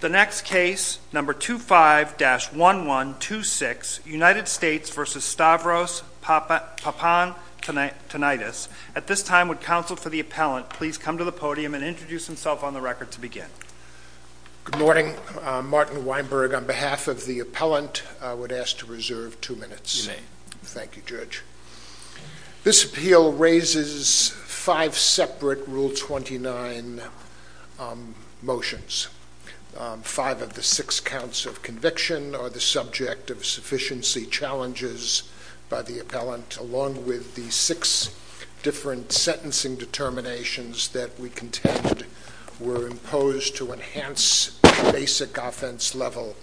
The next case, number 25-1126, United States v. Stavros Papantoniadis. At this time, would counsel for the appellant please come to the podium and introduce himself on the record to begin. Good morning. I'm Martin Weinberg. On behalf of the appellant, I would ask to reserve two minutes. Thank you, Judge. This appeal raises five separate Rule 29 motions. Five of the six counts of conviction are the subject of sufficiency challenges by the appellant, along with the six different sentencing determinations that we contend were imposed to enhance basic offense level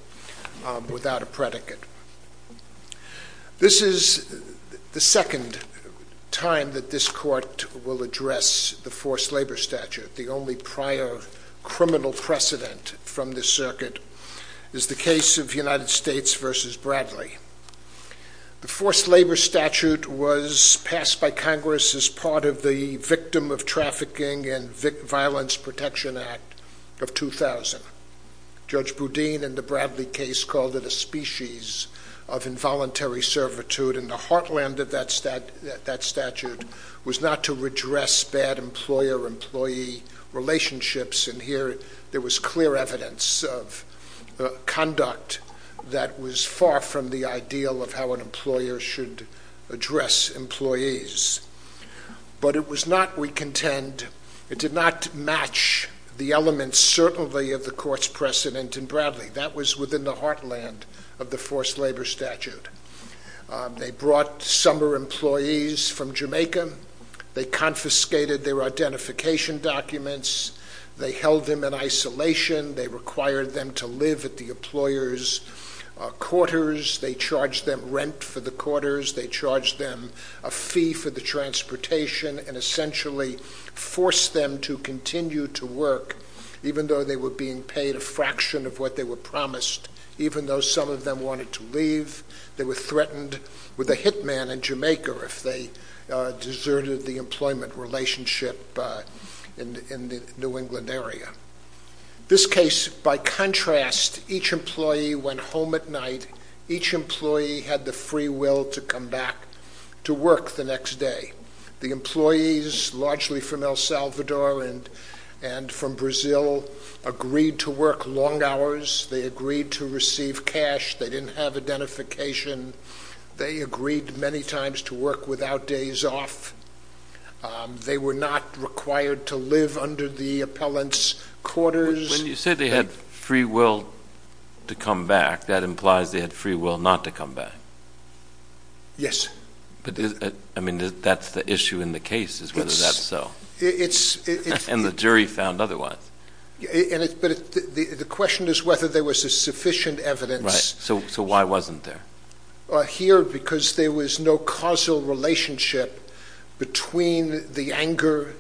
without a predicate. This is the second time that this court will address the forced labor statute. The only prior criminal precedent from this circuit is the case of United States v. Bradley. The forced labor statute was passed by Congress as part of the Victim of Trafficking and Violence Protection Act of 2000. Judge Boudin, in the Bradley case, called it a species of involuntary servitude, and the heartland of that statute was not to redress bad employer-employee relationships, and here there was clear evidence of conduct that was far from the ideal of how an employer should address employees. But it was not, we contend, it did not match the elements, certainly, of the court's precedent in Bradley. That was within the heartland of the forced labor statute. They brought summer employees from Jamaica. They confiscated their identification documents. They held them in isolation. They required them to live at the employer's quarters. They charged them rent for the quarters. They charged them a fee for the transportation, and essentially forced them to continue to work, even though they were being paid a fraction of what they were promised, even though some of them wanted to leave. They were threatened with a hitman in Jamaica if they deserted the employment relationship in the New England area. This case, by contrast, each employee went home at night. Each employee had the free will to come back to work the next day. The employees, largely from El Salvador and from Brazil, agreed to work long hours. They agreed to receive cash. They didn't have identification. They agreed many times to work without days off. They were not required to live under the appellant's quarters. When you say they had free will to come back, that implies they had free will not to come back. Yes. That's the issue in the case, is whether that's so. The jury found otherwise. The question is whether there was sufficient evidence. Why wasn't there? Here, because there was no causal relationship between the anger,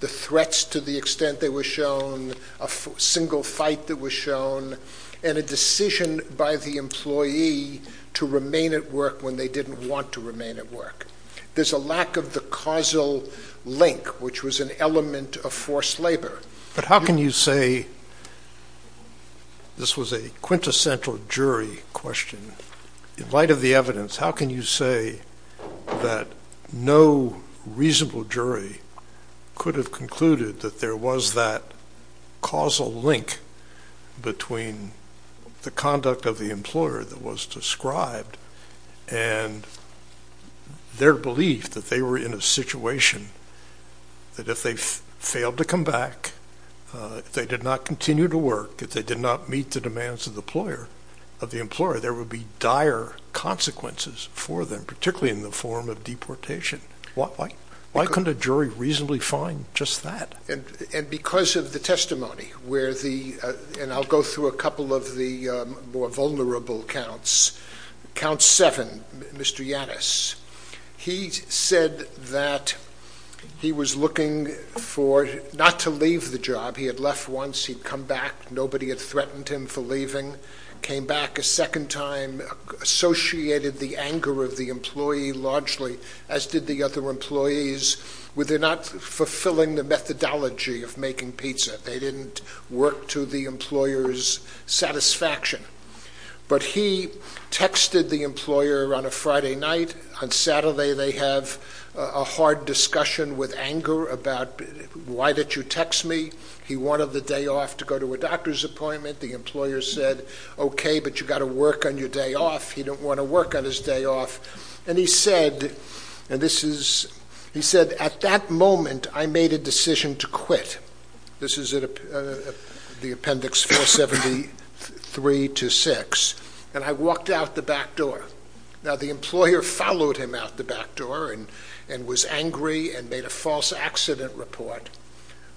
the threats to the extent they were shown, a single fight that was shown, and a decision by the employee to remain at work when they didn't want to remain at work. There's a lack of the causal link, which was an element of forced labor. But how can you say, this was a quintessential jury question, in light of the evidence, how can you say that no reasonable jury could have concluded that there was that causal link between the conduct of the employer that was described and their belief that they were in a situation that if they failed to come back, if they did not continue to work, if they did not meet the demands of the employer, there would be dire consequences for them, particularly in the form of deportation. Why couldn't a jury reasonably find just that? Because of the testimony, and I'll go through a couple of the more vulnerable counts. Count that he was looking for, not to leave the job, he had left once, he'd come back, nobody had threatened him for leaving, came back a second time, associated the anger of the employee largely, as did the other employees, with their not fulfilling the methodology of making pizza. They didn't work to the employer's satisfaction. But he texted the employer on a Friday night, on Saturday they have a hard discussion with anger about, why did you text me? He wanted the day off to go to a doctor's appointment. The employer said, okay, but you've got to work on your day off. He didn't want to work on his day off. And he said, at that moment, I made a decision to quit. This is the appendix 473 to 6. And I walked out the back door. Now, the employer followed him out the back door and was angry and made a false accident report.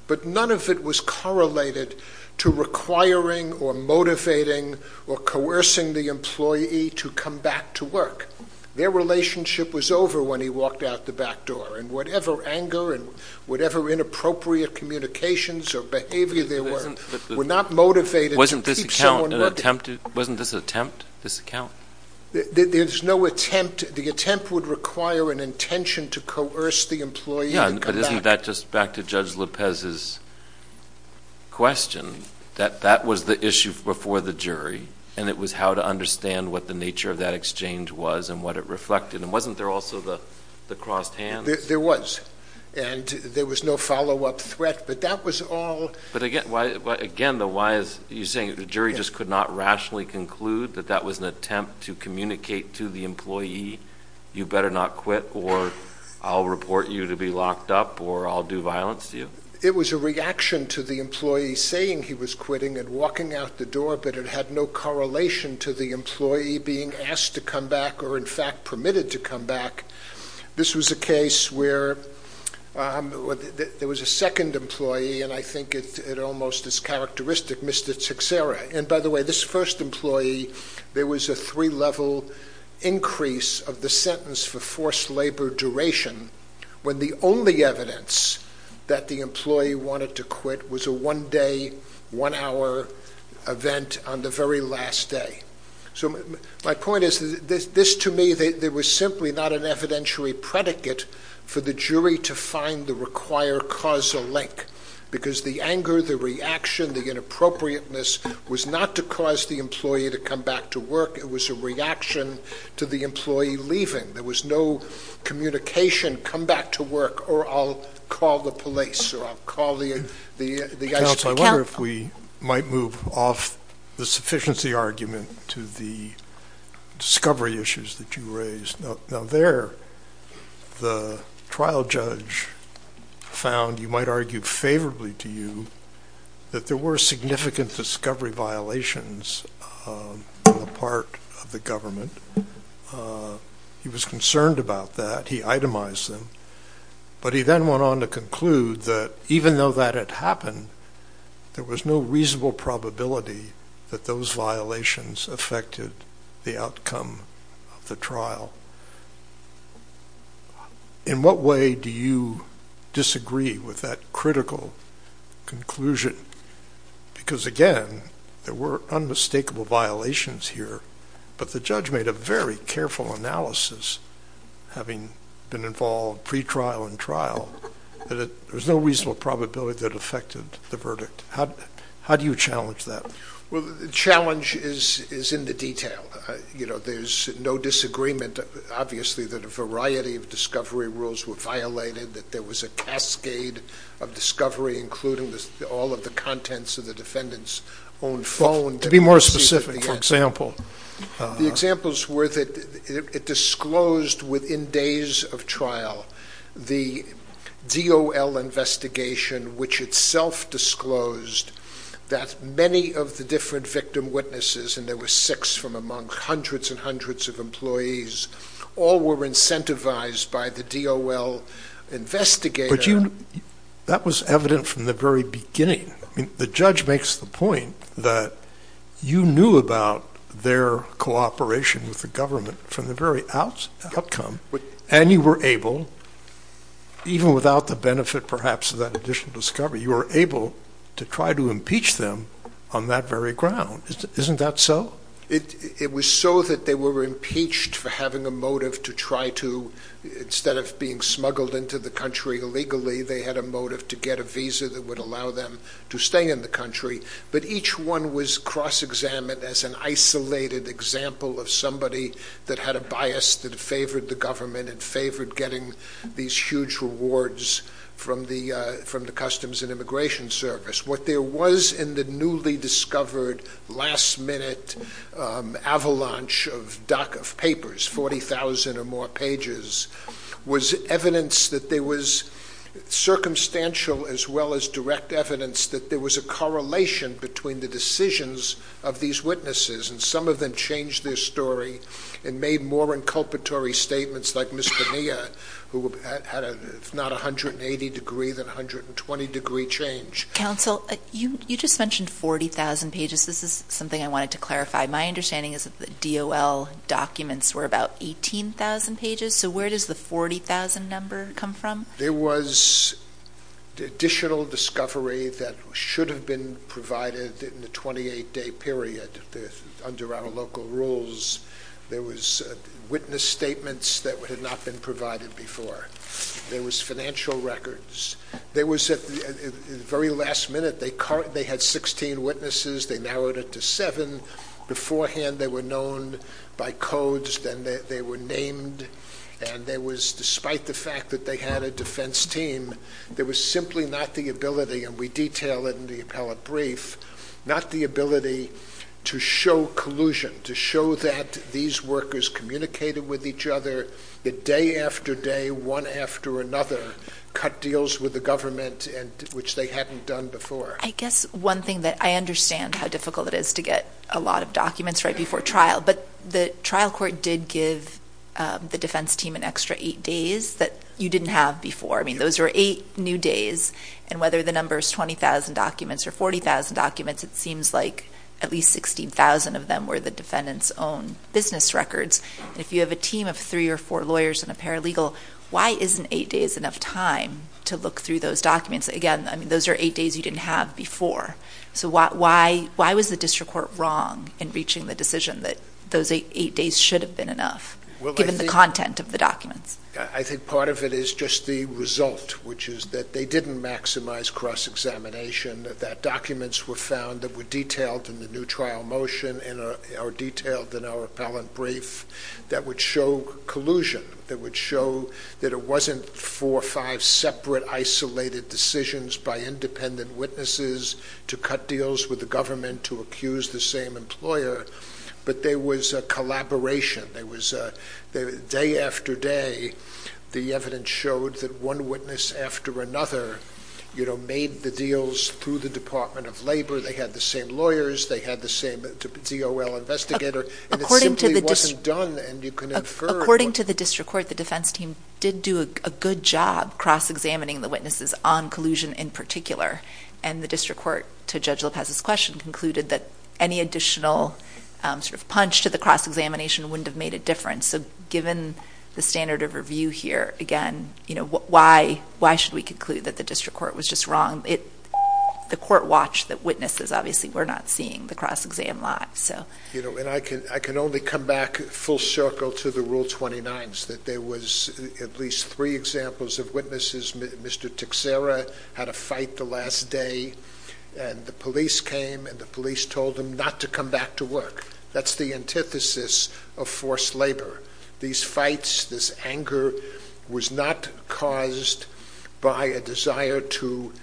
But none of it was correlated to requiring or motivating or coercing the employee to come back to work. Their relationship was over when he walked out the back door. And whatever anger and whatever inappropriate communications or behavior there were, were wasn't this an attempt? This account? There's no attempt. The attempt would require an intention to coerce the employee to come back. But isn't that just back to Judge Lopez's question, that that was the issue before the jury. And it was how to understand what the nature of that exchange was and what it reflected. And wasn't there also the crossed hands? There was. And there was no follow up threat. But that was all. But again, the why is, you're saying the jury just could not rationally conclude that that was an attempt to communicate to the employee, you better not quit or I'll report you to be locked up or I'll do violence to you. It was a reaction to the employee saying he was quitting and walking out the door, but it had no correlation to the employee being asked to come back or in fact permitted to come back. This was a case where there was a second employee and I think it almost is characteristic, Mr. Tixera. And by the way, this first employee, there was a three level increase of the sentence for forced labor duration when the only evidence that the employee wanted to quit was a one day, one hour event on the very last day. So my point is this to me, there was simply not an evidentiary predicate for the jury to find the required causal link because the anger, the reaction, the inappropriateness was not to cause the employee to come back to work. It was a reaction to the employee leaving. There was no communication, come back to work or I'll call the police or I'll call the ICA. Counsel, I wonder if we might move off the sufficiency argument to the discovery issues that you raised. Now there, the trial judge found, you might argue favorably to you, that there were significant discovery violations on the part of the government. He was concerned about that. He itemized them, but he then went on to conclude that even though that had happened, there was no reasonable probability that those violations affected the outcome of the trial. In what way do you disagree with that critical conclusion? Because again, there were unmistakable violations here, but the judge made a very careful analysis, having been involved pre-trial and trial, that there was no reasonable probability that affected the verdict. How do you challenge that? Well, the challenge is in the detail. There's no disagreement obviously that a variety of discovery rules were violated, that there was a cascade of discovery, including all of the contents of the defendant's own phone. To be more specific, for example. The examples were that it disclosed within days of trial, the DOL investigation, which itself disclosed that many of the different victim witnesses, and there were six from among hundreds and hundreds of employees, all were incentivized by the DOL investigator. But that was evident from the very beginning. The judge makes the point that you knew about their cooperation with the government from the very outcome, and you were able, even without the benefit perhaps of that additional discovery, you were able to try to impeach them on that very ground. Isn't that so? It was so that they were impeached for having a motive to try to, instead of being smuggled into the country illegally, they had a motive to get a visa that would allow them to stay in the country. But each one was cross-examined as an isolated example of somebody that had a bias that favored the government and favored getting these huge rewards from the Customs and Immigration Service. What there was in the newly discovered last-minute avalanche of papers, 40,000 or more pages, was evidence that there was circumstantial as well as direct evidence that there was a correlation between the decisions of these witnesses, and some of them changed their story and made more inculpatory statements, like Ms. Bonilla, who had a, if not a 180-degree, then a 120-degree change. Counsel, you just mentioned 40,000 pages. This is something I wanted to clarify. My understanding is that the DOL documents were about 18,000 pages. So where does the 40,000 number come from? There was additional discovery that should have been provided in the 28-day period under our local rules. There was witness statements that had not been provided before. There was financial records. There was, at the very last minute, they had 16 witnesses. They narrowed it to seven. Beforehand, they were known by codes, then they were named, and there was, despite the fact that they had a defense team, there was simply not the ability, and we detail it in the appellate brief, not the ability to show collusion, to show that these workers communicated with each other, that day after day, one after another, cut deals with the government, which they hadn't done before. I guess one thing that I understand how difficult it is to get a lot of documents right before trial, but the trial court did give the defense team an extra eight days that you didn't have before. I mean, those were eight new days, and whether the number is 20,000 documents or 40,000 documents, it seems like at least 16,000 of them were the defendant's own business records. If you have a team of three or four lawyers and a paralegal, why isn't eight days enough time to look through those documents? Again, those are eight days you didn't have before. So why was the district court wrong in reaching the decision that those eight days should have been enough, given the content of the documents? I think part of it is just the result, which is that they didn't maximize cross-examination, that documents were found that were detailed in the new trial motion and are detailed in our appellant brief that would show collusion, that would show that it wasn't four or five separate isolated decisions by independent witnesses to cut deals with the government to accuse the same employer, but there was a collaboration. Day after day, the evidence showed that one witness after another made the deals through the Department of Labor. They had the same lawyers, they had the same DOL investigator, and it simply wasn't done. According to the district court, the defense team did do a good job cross-examining the witnesses on collusion in particular, and the district court, to Judge Lopez's question, concluded that any additional sort of punch to the cross-examination wouldn't have made a difference. So given the standard of review here, again, why should we conclude that the witnesses, obviously we're not seeing the cross-exam lot. You know, and I can only come back full circle to the Rule 29s, that there was at least three examples of witnesses, Mr. Tixera had a fight the last day, and the police came and the police told him not to come back to work. That's the antithesis of forced labor. These fights, this anger, was not caused by a desire to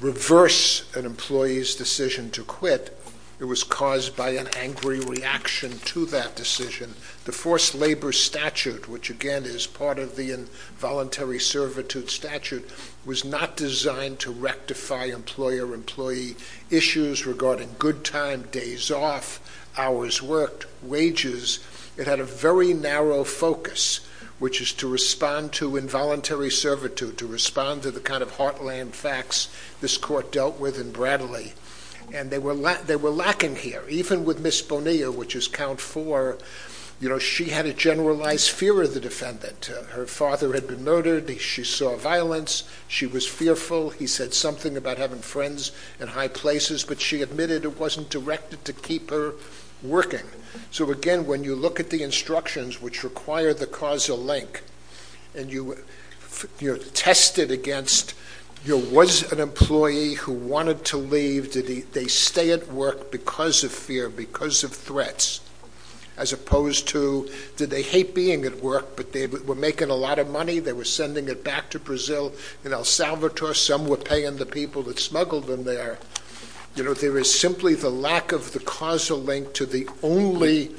reverse an employee's decision to cut quit. It was caused by an angry reaction to that decision. The forced labor statute, which again is part of the involuntary servitude statute, was not designed to rectify employer-employee issues regarding good time, days off, hours worked, wages. It had a very narrow focus, which is to respond to involuntary servitude, to respond to the kind of heartland facts this court dealt with in Bradley, and they were lacking here. Even with Ms. Bonilla, which is count four, you know, she had a generalized fear of the defendant. Her father had been murdered. She saw violence. She was fearful. He said something about having friends in high places, but she admitted it wasn't directed to keep her working. So again, when you look at the instructions, which require the causal link, and you test it against, you know, was it an employee who wanted to leave? Did they stay at work because of fear, because of threats, as opposed to, did they hate being at work, but they were making a lot of money? They were sending it back to Brazil and El Salvador. Some were paying the people that smuggled them there. You know, there is simply the lack of the causal link to the only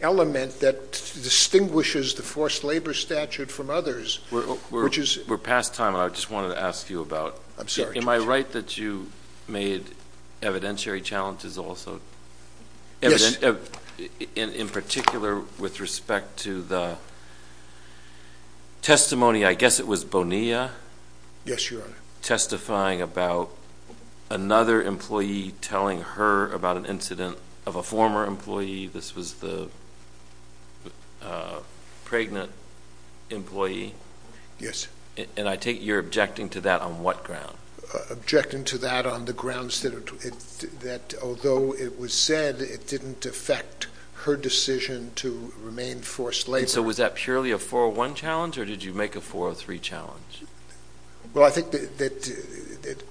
element that distinguishes the forced labor statute from others, which is... Your Honor, we're past time, and I just wanted to ask you about, am I right that you made evidentiary challenges also? Yes. In particular, with respect to the testimony, I guess it was Bonilla? Yes, Your Honor. Testifying about another employee telling her about an incident of a former employee. This was the pregnant employee. Yes. And I take it you're objecting to that on what ground? Objecting to that on the grounds that although it was said, it didn't affect her decision to remain forced labor. So was that purely a 401 challenge or did you make a 403 challenge? Well, I think that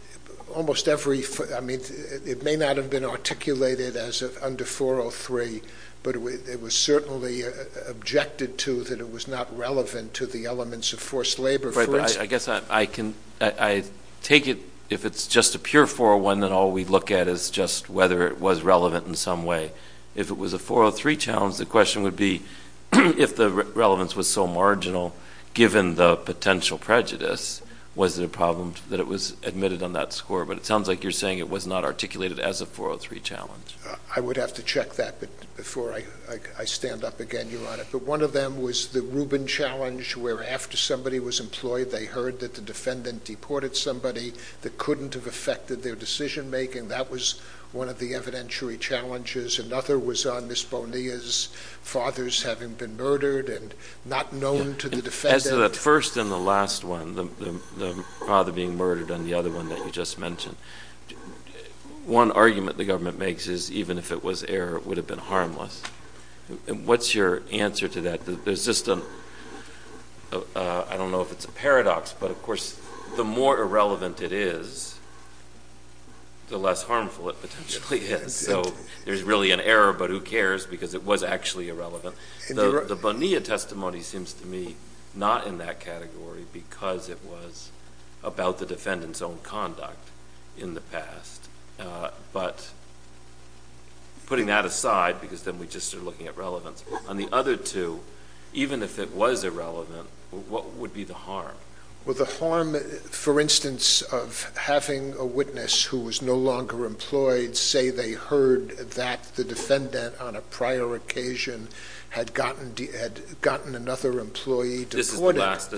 almost every, I mean, it may not have been articulated as under 403, but it was certainly objected to that it was not relevant to the elements of forced labor. Right, but I guess I can, I take it if it's just a pure 401, then all we look at is just whether it was relevant in some way. If it was a 403 challenge, the question would be if the relevance was so marginal, given the potential prejudice, was it a problem that it was admitted on that score? But it sounds like you're saying it was not articulated as a 403 challenge. I would have to check that before I stand up again, Your Honor. But one of them was the Rubin challenge where after somebody was employed, they heard that the defendant deported somebody that couldn't have affected their decision making. That was one of the evidentiary challenges. Another was on Ms. Bonilla's fathers having been murdered and not known to the defendant. As to that first and the last one, the father being murdered, and the other one that you just mentioned, one argument the government makes is even if it was error, it would have been harmless. What's your answer to that? There's just a, I don't know if it's a paradox, but of course, the more irrelevant it is, the less harmful it potentially is. So there's really an error, but who cares because it was actually irrelevant. The Bonilla testimony seems to me not in that category because it was about the defendant's own conduct in the past. But putting that aside because then we just are looking at relevance, on the other two, even if it was irrelevant, what would be the harm? Well, the harm, for instance, of having a witness who was no longer employed say they heard that the defendant on a prior occasion had gotten another employee deported. This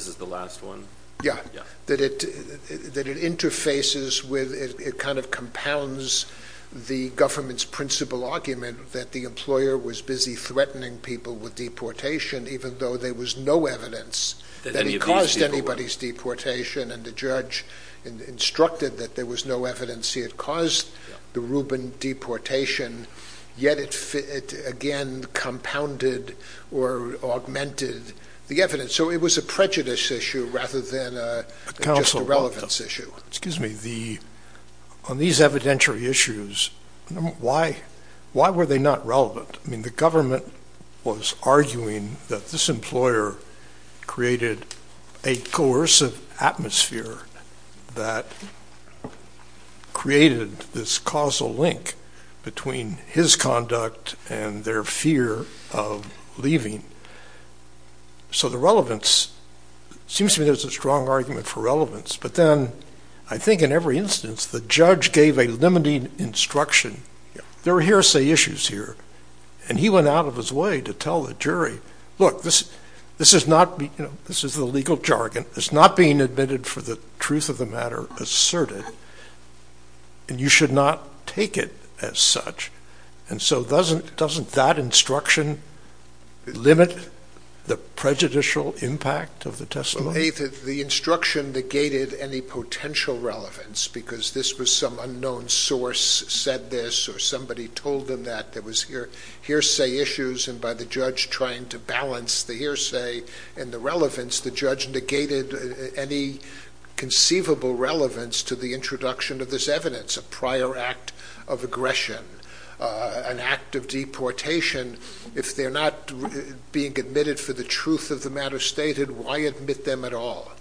is the last one. Yeah. That it interfaces with, it kind of compounds the government's principle argument that the employer was busy threatening people with deportation even though there was no evidence that he caused anybody's deportation. And the judge instructed that there was no evidence he had caused the Rubin deportation, yet it again compounded or augmented the evidence. So it was a prejudice issue rather than a relevance issue. Excuse me. The, on these evidentiary issues, why, why were they not relevant? I mean, the government was arguing that this employer created a coercive atmosphere that created this causal link between his conduct and their fear of leaving. So the relevance, it seems to me there's a strong argument for relevance. But then I think in every instance, the judge gave a limiting instruction. There are hearsay issues here. And he went out of his way to tell the jury, look, this, this is not, you know, this is the legal jargon. It's not being admitted for the truth of the matter asserted. And you should not take it as such. And so doesn't, doesn't that instruction limit the prejudicial impact of the testimony? The instruction negated any potential relevance because this was some unknown source said this or somebody told them that there was hearsay issues. And by the judge trying to balance the hearsay and the relevance, the judge negated any conceivable relevance to the introduction of this evidence, a prior act of aggression, an act of deportation. If they're not being admitted for the truth of the matter stated, why admit them at all?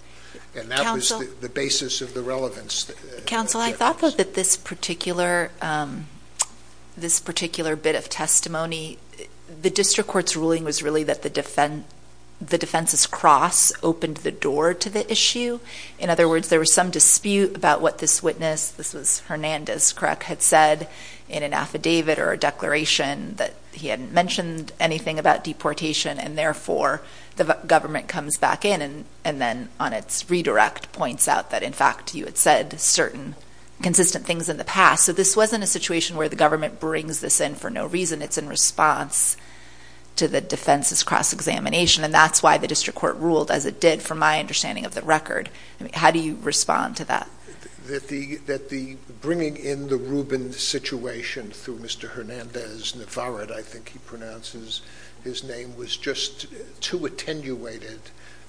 And that was the basis of the relevance. Counsel, I thought that this particular, this particular bit of testimony, the district court's ruling was really that the defense, the defense's cross opened the door to the issue. In other words, there was some dispute about what this witness, this was Hernandez, correct, had said in an affidavit or a declaration that he hadn't mentioned anything about deportation and therefore the government comes back in and, and then on its redirect points out that in fact you had said certain consistent things in the past. So this wasn't a situation where the government brings this in for no reason. It's in response to the defense's cross-examination and that's why the district court ruled as it did from my understanding of the record. How do you respond to that? That the bringing in the Rubin situation through Mr. Hernandez Navarrete, I think he pronounces his name, was just too attenuated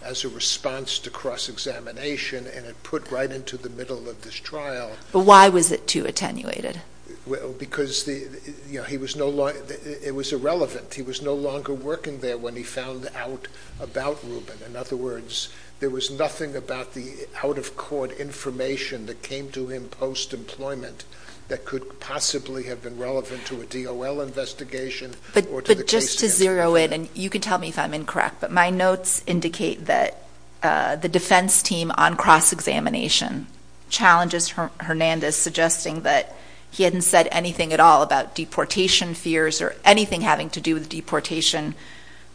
as a response to cross-examination and it put right into the middle of this trial. But why was it too attenuated? Well, because the, you know, he was no longer, it was irrelevant. He was no longer working there when he found out about Rubin. In other words, there was nothing about the out-of-court information that came to him post-employment that could possibly have been relevant to a DOL investigation or to the case handling. But just to zero in, and you can tell me if I'm incorrect, but my notes indicate that the defense team on cross-examination challenges Hernandez, suggesting that he hadn't said anything at all about deportation fears or anything having to do with deportation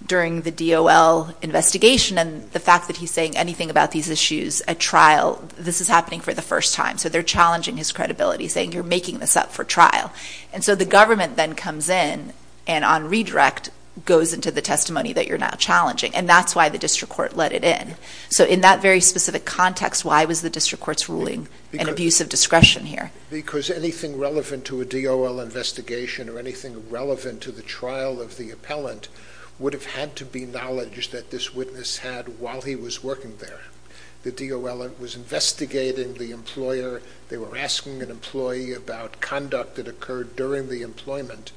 during the DOL investigation. And the fact that he's saying anything about these issues at trial, this is happening for the first time. So they're challenging his credibility, saying you're making this up for trial. And so the government then comes in and on redirect goes into the testimony that you're challenging. And that's why the district court let it in. So in that very specific context, why was the district court's ruling an abuse of discretion here? Because anything relevant to a DOL investigation or anything relevant to the trial of the appellant would have had to be knowledge that this witness had while he was working there. The DOL was investigating the employer. They were asking an employee about conduct that occurred during the employment.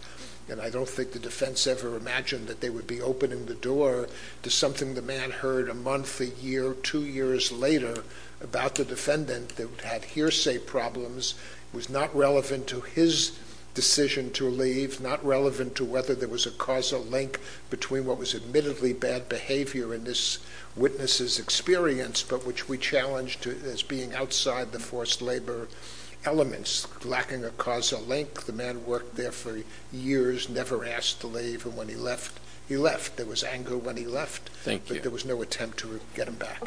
And I don't think the defense ever imagined that they would be opening the door to something the man heard a month, a year, two years later about the defendant that had hearsay problems. It was not relevant to his decision to leave, not relevant to whether there was a causal link between what was admittedly bad behavior in this witness's experience, but which we challenged as being outside the forced labor elements, lacking a causal link. The man worked there for years, never asked to leave. And when he left, he left. There was anger when he left, but there was no attempt to get him back.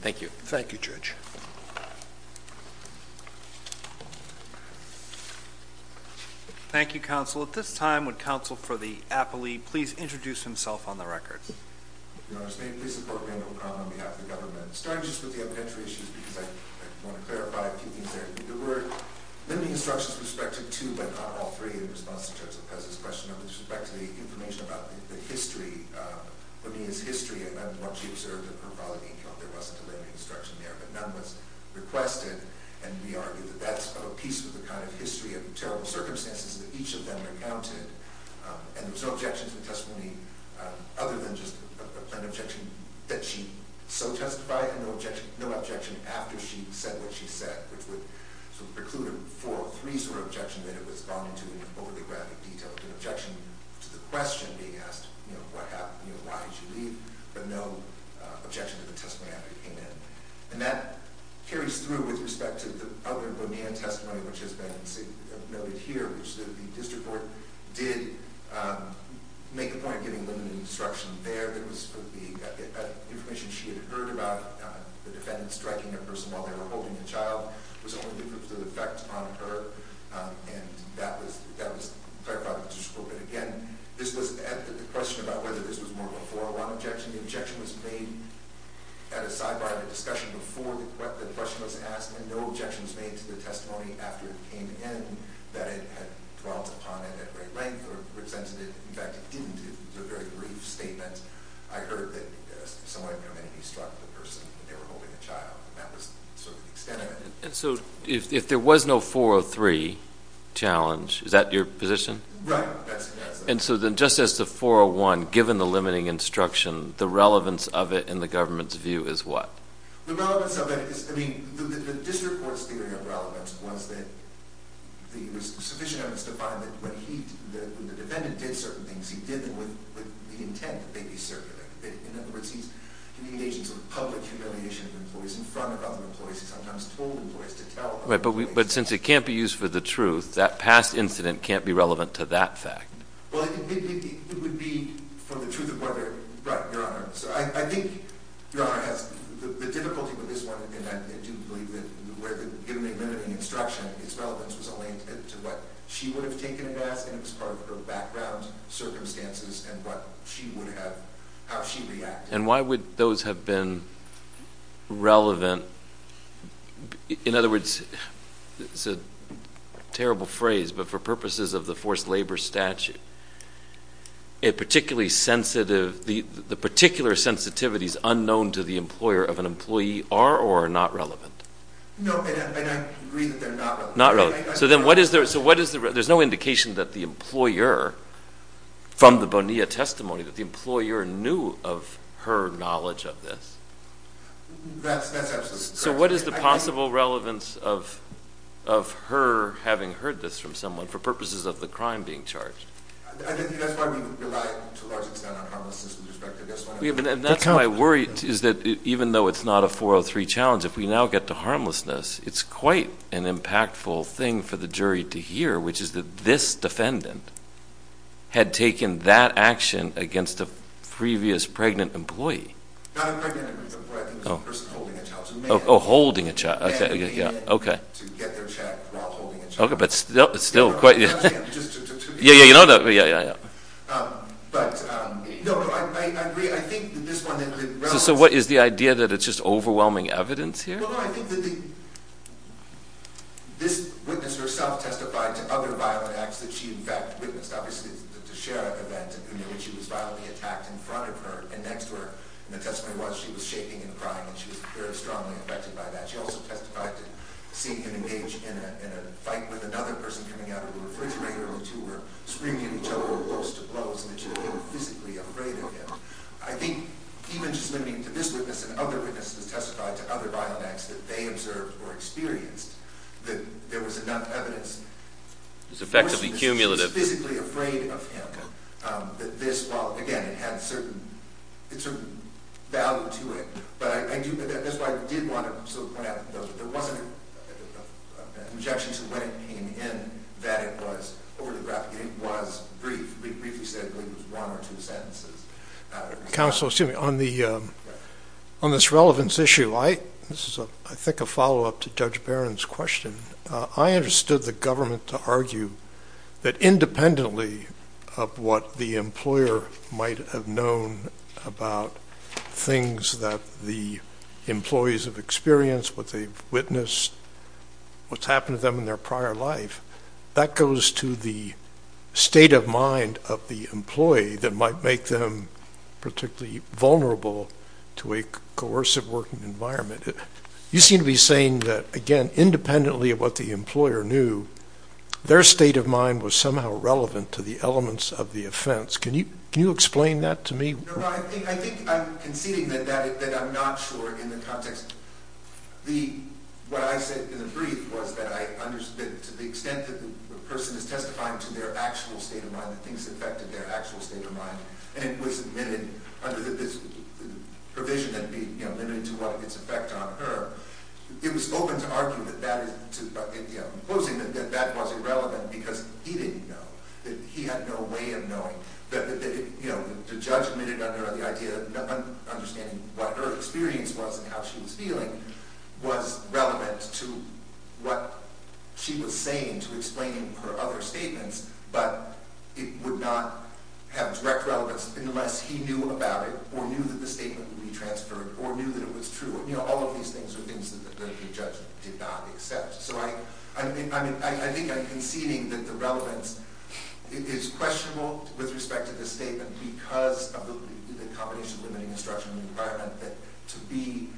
Thank you. Thank you, judge. Thank you, counsel. At this time, would counsel for the appellee please introduce himself on the records? Your Honor's name, please support me on behalf of the government. Starting just with the evidentiary issues because I want to clarify a few things there. There were many instructions with respect to two, but not all three in response to Judge Lopez's question with respect to the information about the history, Bonilla's history, and what she observed in her following account. There wasn't a letter of instruction there, but none was requested. And we argued that that's a piece of the kind of history of terrible circumstances that each of them recounted. And there was no objection to the testimony other than just a plain objection that she so testified and no objection after she said what she said, which would preclude another four or three sort of objections that it would respond to in an overly graphic detail, with an objection to the question being asked, you know, what happened, you know, why did she leave, but no objection to the testimony after she came in. And that carries through with respect to the other Bonilla testimony, which has been noted here, which the district court did make a point of giving limited instruction there. There was information she had heard about the defendant striking a person while they were holding the child was only due to the effect on her, and that was clarified by the district court. But again, this was, and the question about whether this was more of a 401 objection, the objection was made at a sidebar of a discussion before the question was asked, and no objection was made to the testimony after it came in that it had dwelt upon it at great length or presented it, in fact, it didn't. It was a very brief statement. I heard that someone had come in and struck the person while they were holding the child, and that was sort of the extent of it. And so if there was no 403 challenge, is that your position? Right. And so then just as to 401, given the limiting instruction, the relevance of it in the government's view is what? The relevance of it is, I mean, the district court's theory of relevance was that it was sufficient evidence to find that when the defendant did certain things, he did them with the intent that they be circulating. In other words, he's communicating sort of public humiliation of employees in front of other employees. He sometimes told employees to tell other employees. Right, but since it can't be used for the truth, that past incident can't be relevant to that fact. Well, it would be for the truth of whether, right, Your Honor, so I think Your Honor has the difficulty with this one in that I do believe that given the limiting instruction, its relevance was only intended to what she would have taken it as, and it was part of her background, circumstances, and what she would have, how she reacted. And why would those have been relevant? In other words, it's a terrible phrase, but for purposes of the forced labor statute, a particularly sensitive, the particular sensitivities unknown to the employer of an employee are or are not relevant? No, and I agree that they're not relevant. So then what is the, there's no indication that the employer, from the Bonilla testimony, that the employer knew of her knowledge of this? That's absolutely correct. So what is the possible relevance of her having heard this from someone for purposes of the crime being charged? I think that's why we rely to a large extent on harmlessness with respect to this one. And that's why I worry, is that even though it's not a 403 challenge, if we now get to thing for the jury to hear, which is that this defendant had taken that action against a previous pregnant employee. Not a pregnant employee, I think it was a person holding a child. Oh, holding a child, okay. To get their check while holding a child. Okay, but still. Just to be clear. Yeah, yeah, you know, yeah, yeah, yeah. But, no, I agree, I think that this one had been relevant. So what, is the idea that it's just overwhelming evidence here? Well, no, I think that this witness herself testified to other violent acts that she, in fact, witnessed. Obviously, the Teixeira event in which she was violently attacked in front of her and next to her. And the testimony was, she was shaking and crying, and she was very strongly affected by that. She also testified to seeing him engage in a fight with another person coming out of the refrigerator and the two were screaming at each other, close to blows, and that she was physically afraid of him. I think even just limiting to this witness and other witnesses testified to other violent acts that they observed or experienced, that there was enough evidence. It was effectively cumulative. She was physically afraid of him. That this, well, again, it had a certain value to it. But I do, that's why I did want to sort of point out that there wasn't an objection to when it came in that it was overly graphic. It was brief. We briefly said it was one or two sentences. Counsel, excuse me, on this relevance issue, this is, I think, a follow-up to Judge Barron's question. I understood the government to argue that independently of what the employer might have known about things that the employees have experienced, what they've witnessed, what's happened to them in their prior life, that goes to the state of mind of the employee that might make them particularly vulnerable to a coercive working environment. You seem to be saying that, again, independently of what the employer knew, their state of mind was somehow relevant to the elements of the offense. Can you explain that to me? I think I'm conceding that I'm not sure in the context. What I said in the brief was that to the extent that the person is testifying to their actual state of mind, that things affected their actual state of mind, and it was admitted under this provision that it be admitted to what its effect on her, it was open to arguing that that was irrelevant because he didn't know, that he had no way of knowing. The judge admitted under the idea of understanding what her experience was and how she was feeling was relevant to what she was saying to explain her other statements, but it would not have direct relevance unless he knew about it or knew that the statement would be transferred or knew that it was true. All of these things are things that the judge did not accept. So I think I'm conceding that the relevance is questionable with respect to the statement because of the combination of limiting instruction and requirement that to be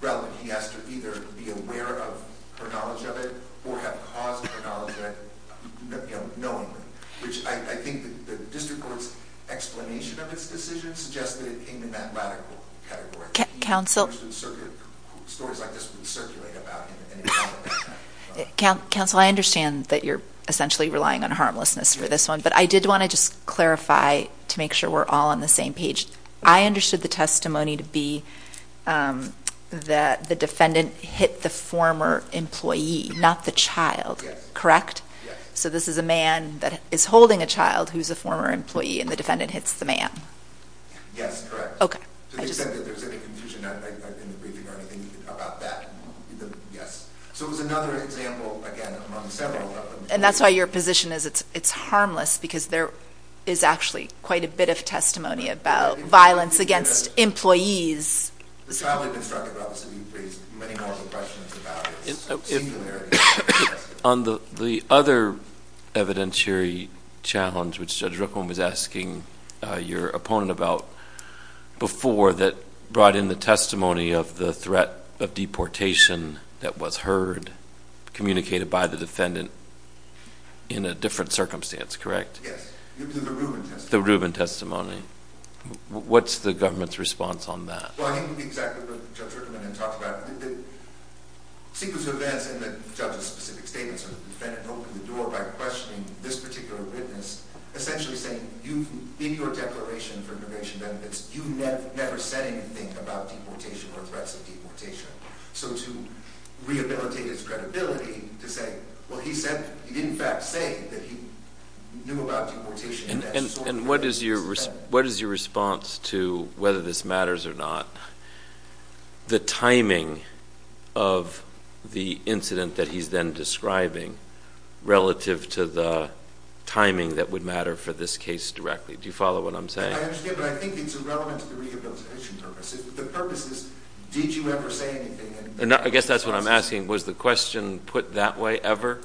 relevant, he has to either be aware of her knowledge of it or have caused her knowledge of it, knowingly, which I think the district court's explanation of its decision suggests that it came in that radical category. Stories like this would circulate about him. Counsel, I understand that you're essentially relying on harmlessness for this one, but I did want to just clarify to make sure we're all on the same page. I understood the testimony to be that the defendant hit the former employee, not the child, correct? Yes. So this is a man that is holding a child who's a former employee, and the defendant hits the man? Yes, correct. Okay. So they said that there was any confusion in the briefing or anything about that? Yes. So it was another example, again, among several of them. And that's why your position is it's harmless, because there is actually quite a bit of testimony about violence against employees. The child had been struck about this, and you've raised many more of the questions about its singularity. On the other evidentiary challenge, which Judge Rickman was asking your opponent about before, that brought in the testimony of the threat of deportation that was heard, communicated by the defendant, in a different circumstance, correct? Yes, the Rubin testimony. The Rubin testimony. What's the government's response on that? Well, I think it would be exactly what Judge Rickman had talked about. The sequence of events in the judge's specific statements, where the defendant opened the door by questioning this particular witness, essentially saying, in your declaration for immigration benefits, you never said anything about deportation or threats of deportation. So to rehabilitate his credibility to say, well, he did, in fact, say that he knew about deportation. And what is your response to whether this matters or not? The timing of the incident that he's then describing relative to the timing that would matter for this case directly. Do you follow what I'm saying? I understand, but I think it's irrelevant to the rehabilitation purpose. The purpose is, did you ever say anything? I guess that's what I'm asking. Was the question put that way ever,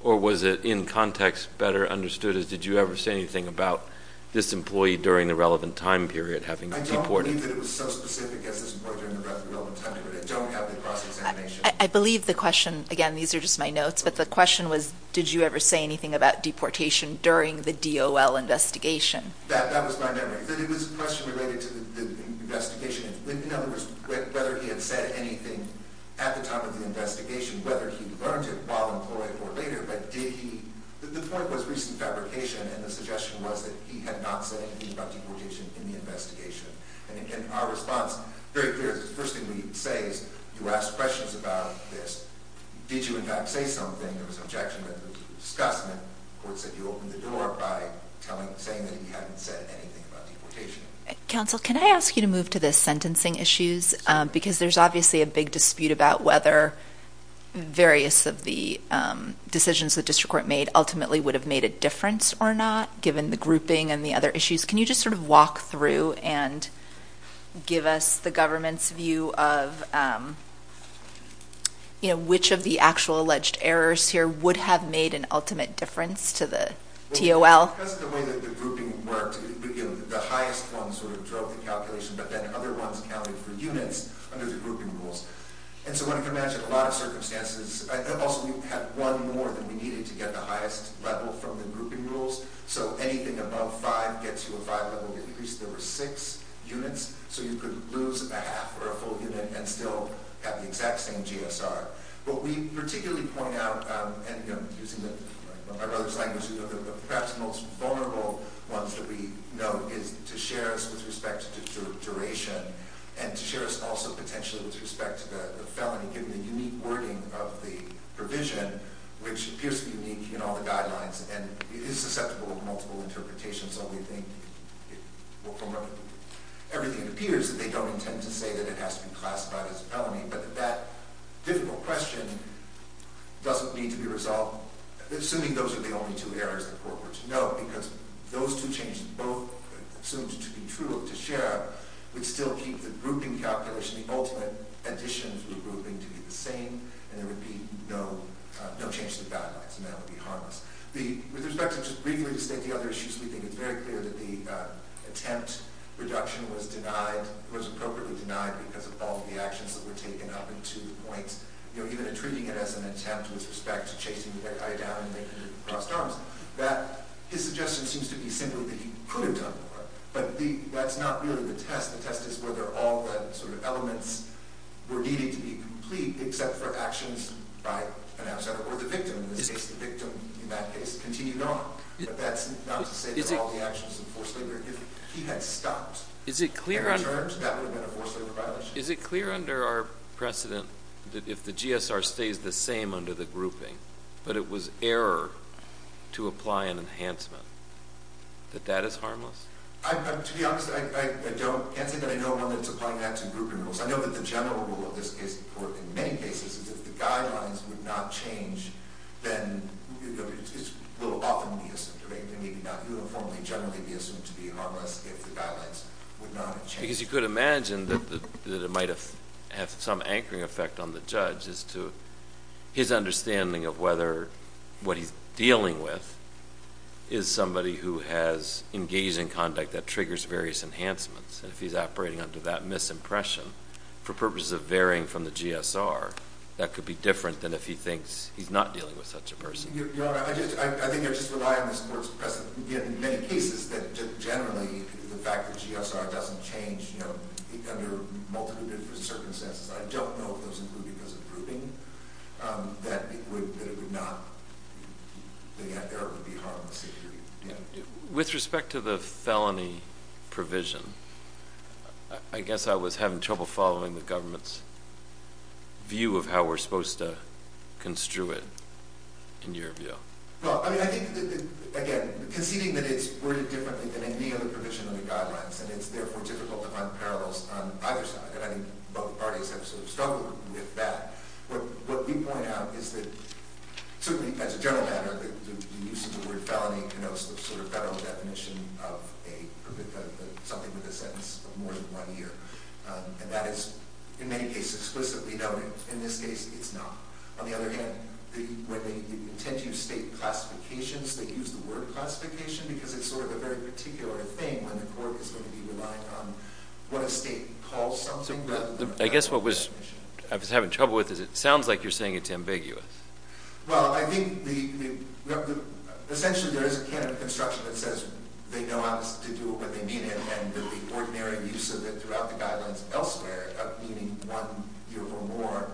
or was it in context better understood as, did you ever say anything about this employee during the relevant time period having deported? I don't believe that it was so specific as this employee during the relevant time period. I don't have the cross-examination. I believe the question, again, these are just my notes, but the question was, did you ever say anything about deportation during the DOL investigation? That was my memory, that it was a question related to the investigation. In other words, whether he had said anything at the time of the investigation, whether he learned it while employed or later, but did he? The point was recent fabrication, and the suggestion was that he had not said anything about deportation in the investigation. And our response, very clear, is the first thing we say is, you asked questions about this. Did you, in fact, say something? There was an objection that was a discussment. The court said you opened the door by saying that he hadn't said anything about deportation. Counsel, can I ask you to move to the sentencing issues? Because there's obviously a big dispute about whether various of the decisions the district court made ultimately would have made a difference or not, given the grouping and the other issues. Can you just sort of walk through and give us the government's view of, you know, which of the actual alleged errors here would have made an ultimate difference to the DOL? Because of the way that the grouping worked, the highest one sort of drove the calculation, but then other ones counted for units under the grouping rules. And so when you can imagine a lot of circumstances, and also we had one more than we needed to get the highest level from the grouping rules. So anything above five gets you a five-level increase. There were six units, so you could lose a half or a full unit and still have the exact same GSR. What we particularly point out, and using my brother's language, the perhaps most vulnerable ones that we note is to share us with respect to duration and to share us also potentially with respect to the felony, given the unique wording of the provision, which appears to be unique in all the guidelines and is susceptible to multiple interpretations. Everything appears that they don't intend to say that it has to be classified as a felony, but that that difficult question doesn't need to be resolved, assuming those are the only two errors the court were to note, because those two changes, both assumed to be true to share, would still keep the grouping calculation, the ultimate additions to the grouping to be the same, and there would be no change to the guidelines, and that would be harmless. With respect to just briefly to state the other issues, we think it's very clear that the attempt reduction was appropriately denied because of all the actions that were taken up until the point, even treating it as an attempt with respect to chasing the guy down and making him cross arms. His suggestion seems to be simply that he could have done more, but that's not really the test. The test is whether all the elements were needed to be complete except for actions by an outsider or the victim. In this case, the victim, in that case, continued on, but that's not to say that all the actions of forced labor, if he had stopped and returned, that would have been a forced labor violation. Is it clear under our precedent that if the GSR stays the same under the grouping, but it was error to apply an enhancement, that that is harmless? To be honest, I can't say that I know of one that's applying that to grouping rules. I know that the general rule of this case, or in many cases, is if the guidelines would not change, then it will often be assumed, or maybe not uniformly, generally be assumed to be harmless if the guidelines would not change. Because you could imagine that it might have some anchoring effect on the judge as to his understanding of whether what he's dealing with is somebody who has engaging conduct that triggers various enhancements. If he's operating under that misimpression for purposes of varying from the GSR, that could be different than if he thinks he's not dealing with such a person. Your Honor, I think you're just relying on this court's precedent. In many cases, generally, the fact that GSR doesn't change under multiple different circumstances, I don't know if those include because of grouping, that it would not be harmful. With respect to the felony provision, I guess I was having trouble following the government's view of how we're supposed to construe it, in your view. Well, I think, again, conceding that it's worded differently than any other provision of the guidelines, and it's therefore difficult to find parallels on either side, and I think both parties have sort of struggled with that. What we point out is that, certainly as a general matter, the use of the word felony connotes the sort of federal definition of something with a sentence of more than one year, and that is, in many cases, explicitly noted. In this case, it's not. On the other hand, when they intend to use state classifications, they use the word classification because it's sort of a very particular thing when the court is going to be relying on what a state calls something. I guess what I was having trouble with is it sounds like you're saying it's ambiguous. Well, I think essentially there is a canon of construction that says they know how to do what they mean, and the ordinary use of it throughout the guidelines elsewhere, meaning one year or more,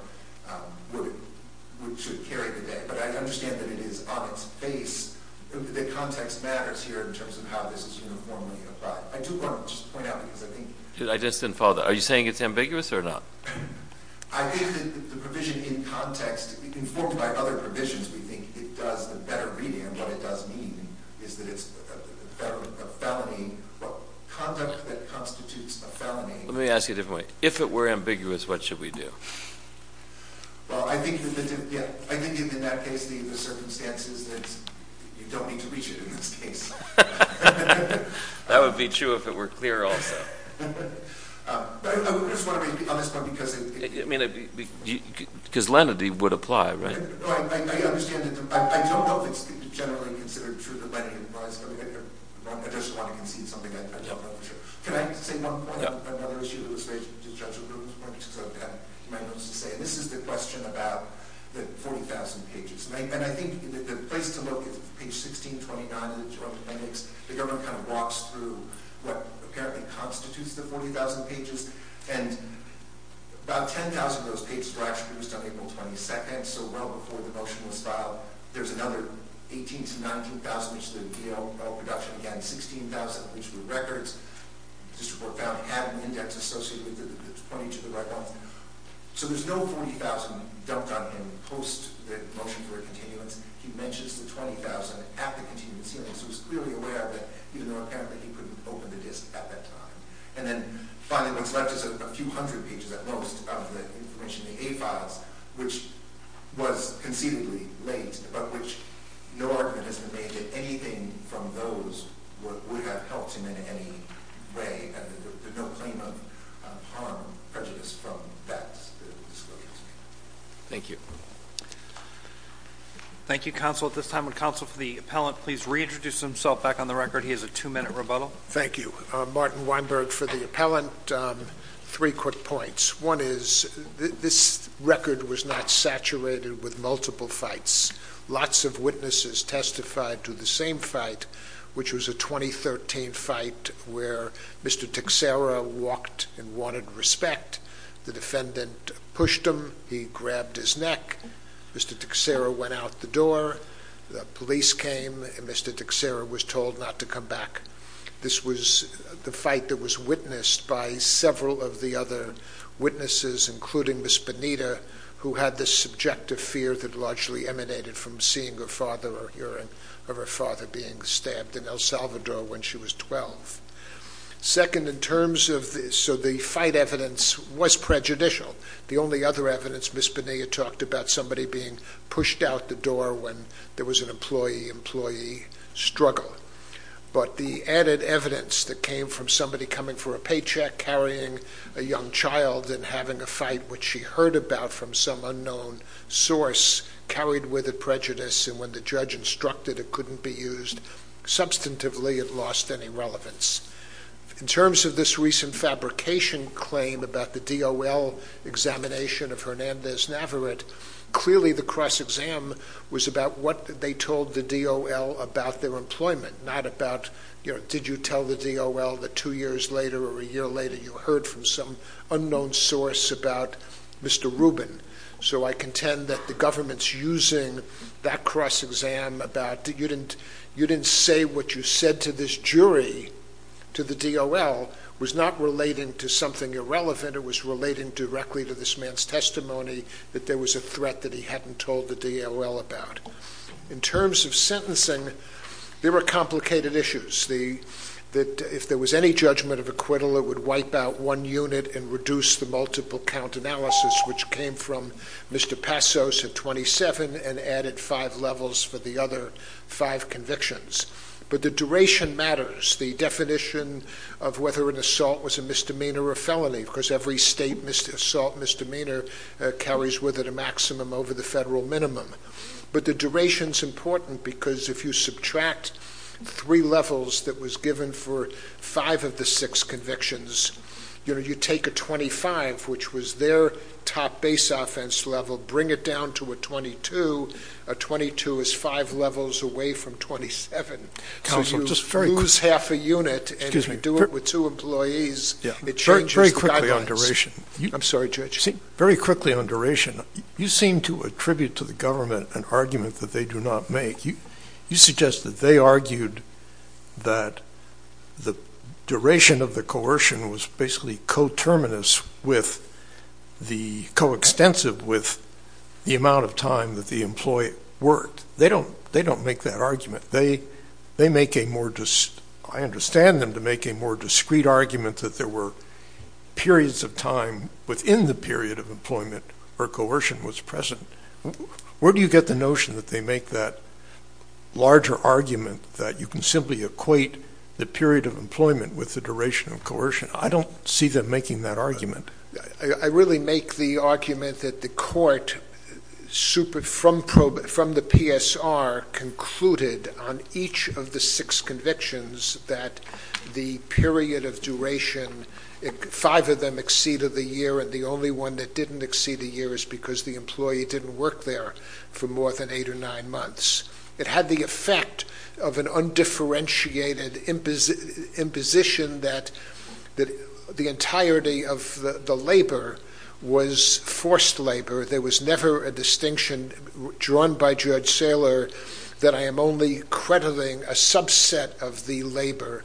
should carry the day. But I understand that it is on its face that context matters here in terms of how this is uniformly applied. I do want to just point out because I think- I just didn't follow that. Are you saying it's ambiguous or not? I think that the provision in context, informed by other provisions, we think it does a better reading, and what it does mean is that it's a felony, but conduct that constitutes a felony- Let me ask you a different way. If it were ambiguous, what should we do? Well, I think in that case the circumstances that you don't need to reach it in this case. That would be true if it were clear also. I just want to make the honest point because- Because lenity would apply, right? I don't know if it's generally considered true that lenity applies. I just want to concede something I don't know for sure. Can I say one point on another issue that was raised? This is the question about the 40,000 pages. I think the place to look is page 1629 of the Joint Appendix. The government kind of walks through what apparently constitutes the 40,000 pages. About 10,000 of those pages were actually used on April 22nd, so well before the motion was filed. There's another 18,000 to 19,000, which is the DL production. Again, 16,000, which were records. This report found it had an index associated with it that's pointing to the right one. There's no 40,000 dumped on him post the motion for a continuance. He mentions the 20,000 at the continuance hearing, so he's clearly aware of it, even though apparently he couldn't open the disk at that time. Finally, what's left is a few hundred pages at most of the information in the A files, which was conceivably late, but which no argument has been made that anything from those would have helped him in any way. There's no claim of harm or prejudice from that disclosure. Thank you. Thank you, counsel. At this time, would counsel for the appellant please reintroduce himself back on the record? He has a two-minute rebuttal. Thank you. Martin Weinberg for the appellant. Three quick points. One is this record was not saturated with multiple fights. Lots of witnesses testified to the same fight, which was a 2013 fight where Mr. Tixera walked and wanted respect. The defendant pushed him. He grabbed his neck. Mr. Tixera went out the door. The police came, and Mr. Tixera was told not to come back. This was the fight that was witnessed by several of the other witnesses, including Ms. Bonita, who had this subjective fear that largely emanated from seeing her father or hearing of her father being stabbed in El Salvador when she was 12. Second, in terms of this, so the fight evidence was prejudicial. The only other evidence, Ms. Bonita talked about somebody being pushed out the door when there was an employee-employee struggle. But the added evidence that came from somebody coming for a paycheck, carrying a young child and having a fight, which she heard about from some unknown source, carried with it prejudice, and when the judge instructed it couldn't be used substantively, it lost any relevance. In terms of this recent fabrication claim about the DOL examination of Hernandez Navarrete, clearly the cross-exam was about what they told the DOL about their employment, not about did you tell the DOL that two years later or a year later you heard from some unknown source about Mr. Rubin. So I contend that the government's using that cross-exam about you didn't say what you said to this jury, to the DOL, was not relating to something irrelevant, it was relating directly to this man's testimony that there was a threat that he hadn't told the DOL about. In terms of sentencing, there are complicated issues. If there was any judgment of acquittal, it would wipe out one unit and reduce the multiple count analysis, which came from Mr. Passos at 27 and added five levels for the other five convictions. But the duration matters, the definition of whether an assault was a misdemeanor or a felony, because every state assault misdemeanor carries with it a maximum over the federal minimum. But the duration's important because if you subtract three levels that was given for five of the six convictions, you take a 25, which was their top base offense level, bring it down to a 22, a 22 is five levels away from 27. So you lose half a unit and if you do it with two employees, it changes the guidelines. I'm sorry, Judge. Very quickly on duration, you seem to attribute to the government an argument that they do not make. You suggest that they argued that the duration of the coercion was basically co-terminus with the, co-extensive with the amount of time that the employee worked. They don't make that argument. They make a more, I understand them to make a more discreet argument that there were periods of time within the period of employment where coercion was present. Where do you get the notion that they make that larger argument that you can simply equate the period of employment with the duration of coercion? I don't see them making that argument. I really make the argument that the court, from the PSR, concluded on each of the six convictions that the period of duration, five of them exceeded the year and the only one that didn't exceed a year is because the employee didn't work there for more than eight or nine months. It had the effect of an undifferentiated imposition that the entirety of the labor was forced labor. There was never a distinction drawn by Judge Saylor that I am only crediting a subset of the labor.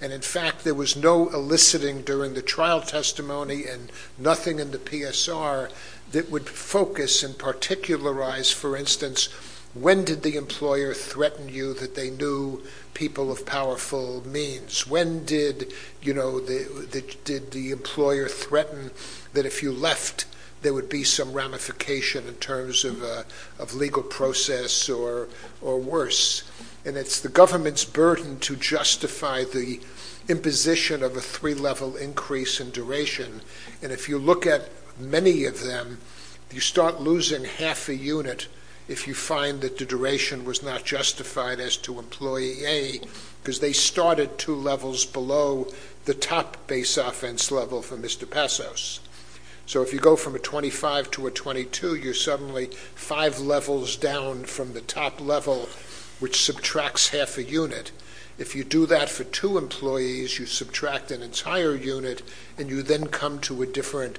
In fact, there was no eliciting during the trial testimony and nothing in the PSR that would focus and particularize, for instance, when did the employer threaten you that they knew people of powerful means? When did the employer threaten that if you left there would be some ramification in terms of legal process or worse? It's the government's burden to justify the imposition of a three-level increase in duration. If you look at many of them, you start losing half a unit if you find that the duration was not justified as to employee A because they started two levels below the top base offense level for Mr. Passos. If you go from a 25 to a 22, you're suddenly five levels down from the top level, which subtracts half a unit. If you do that for two employees, you subtract an entire unit and you then come to a different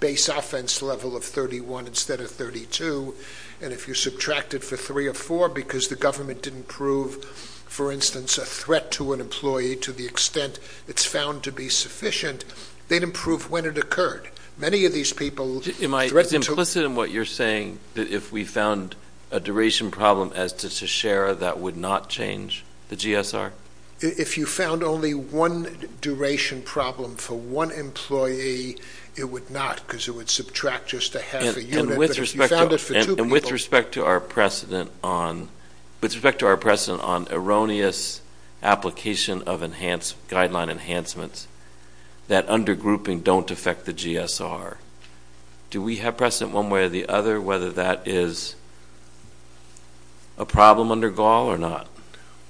base offense level of 31 instead of 32. And if you subtract it for three or four because the government didn't prove, for instance, a threat to an employee to the extent it's found to be sufficient, they'd improve when it occurred. Am I implicit in what you're saying that if we found a duration problem as to Shachera, that would not change the GSR? If you found only one duration problem for one employee, it would not because it would subtract just a half a unit. And with respect to our precedent on erroneous application of guideline enhancements that under grouping don't affect the GSR, do we have precedent one way or the other whether that is a problem under Gaul or not?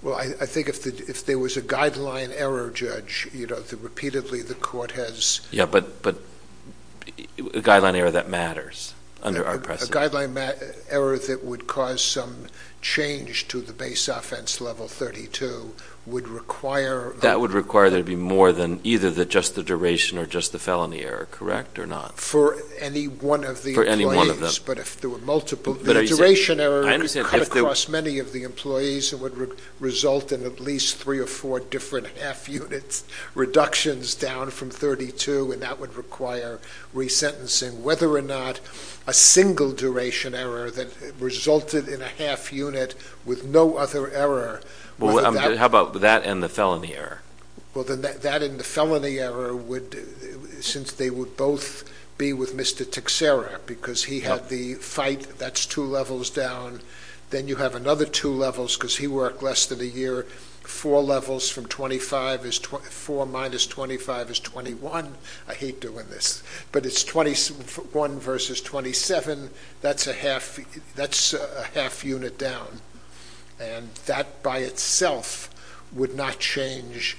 Well, I think if there was a guideline error, Judge, repeatedly the court has... Yeah, but a guideline error that matters under our precedent. A guideline error that would cause some change to the base offense level 32 would require... That would require there to be more than either just the duration or just the felony error, correct or not? For any one of the employees. For any one of them. But if there were multiple... The duration error would cut across many of the employees and would result in at least three or four different half units, reductions down from 32, and that would require resentencing. Whether or not a single duration error that resulted in a half unit with no other error... How about that and the felony error? Well, then that and the felony error would... Since they would both be with Mr. Tixera because he had the fight, that's two levels down. Then you have another two levels because he worked less than a year. Four levels from 25 is... Four minus 25 is 21. I hate doing this. But it's 21 versus 27. That's a half unit down. And that by itself would not change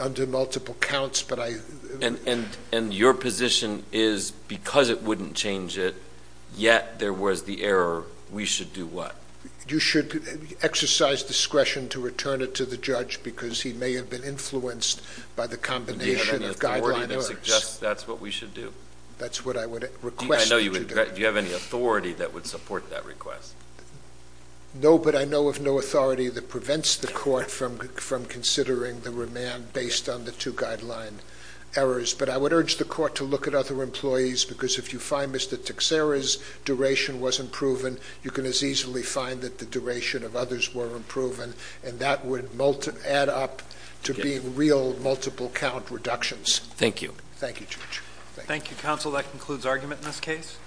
under multiple counts, but I... And your position is because it wouldn't change it, yet there was the error, we should do what? You should exercise discretion to return it to the judge because he may have been influenced by the combination of guideline errors. Do you have any authority that suggests that's what we should do? That's what I would request that you do. Do you have any authority that would support that request? No, but I know of no authority that prevents the court from considering the remand based on the two guideline errors. But I would urge the court to look at other employees because if you find Mr. Tixera's duration wasn't proven, you can as easily find that the duration of others weren't proven, and that would add up to being real multiple count reductions. Thank you. Thank you, Judge. Thank you, counsel. That concludes argument in this case.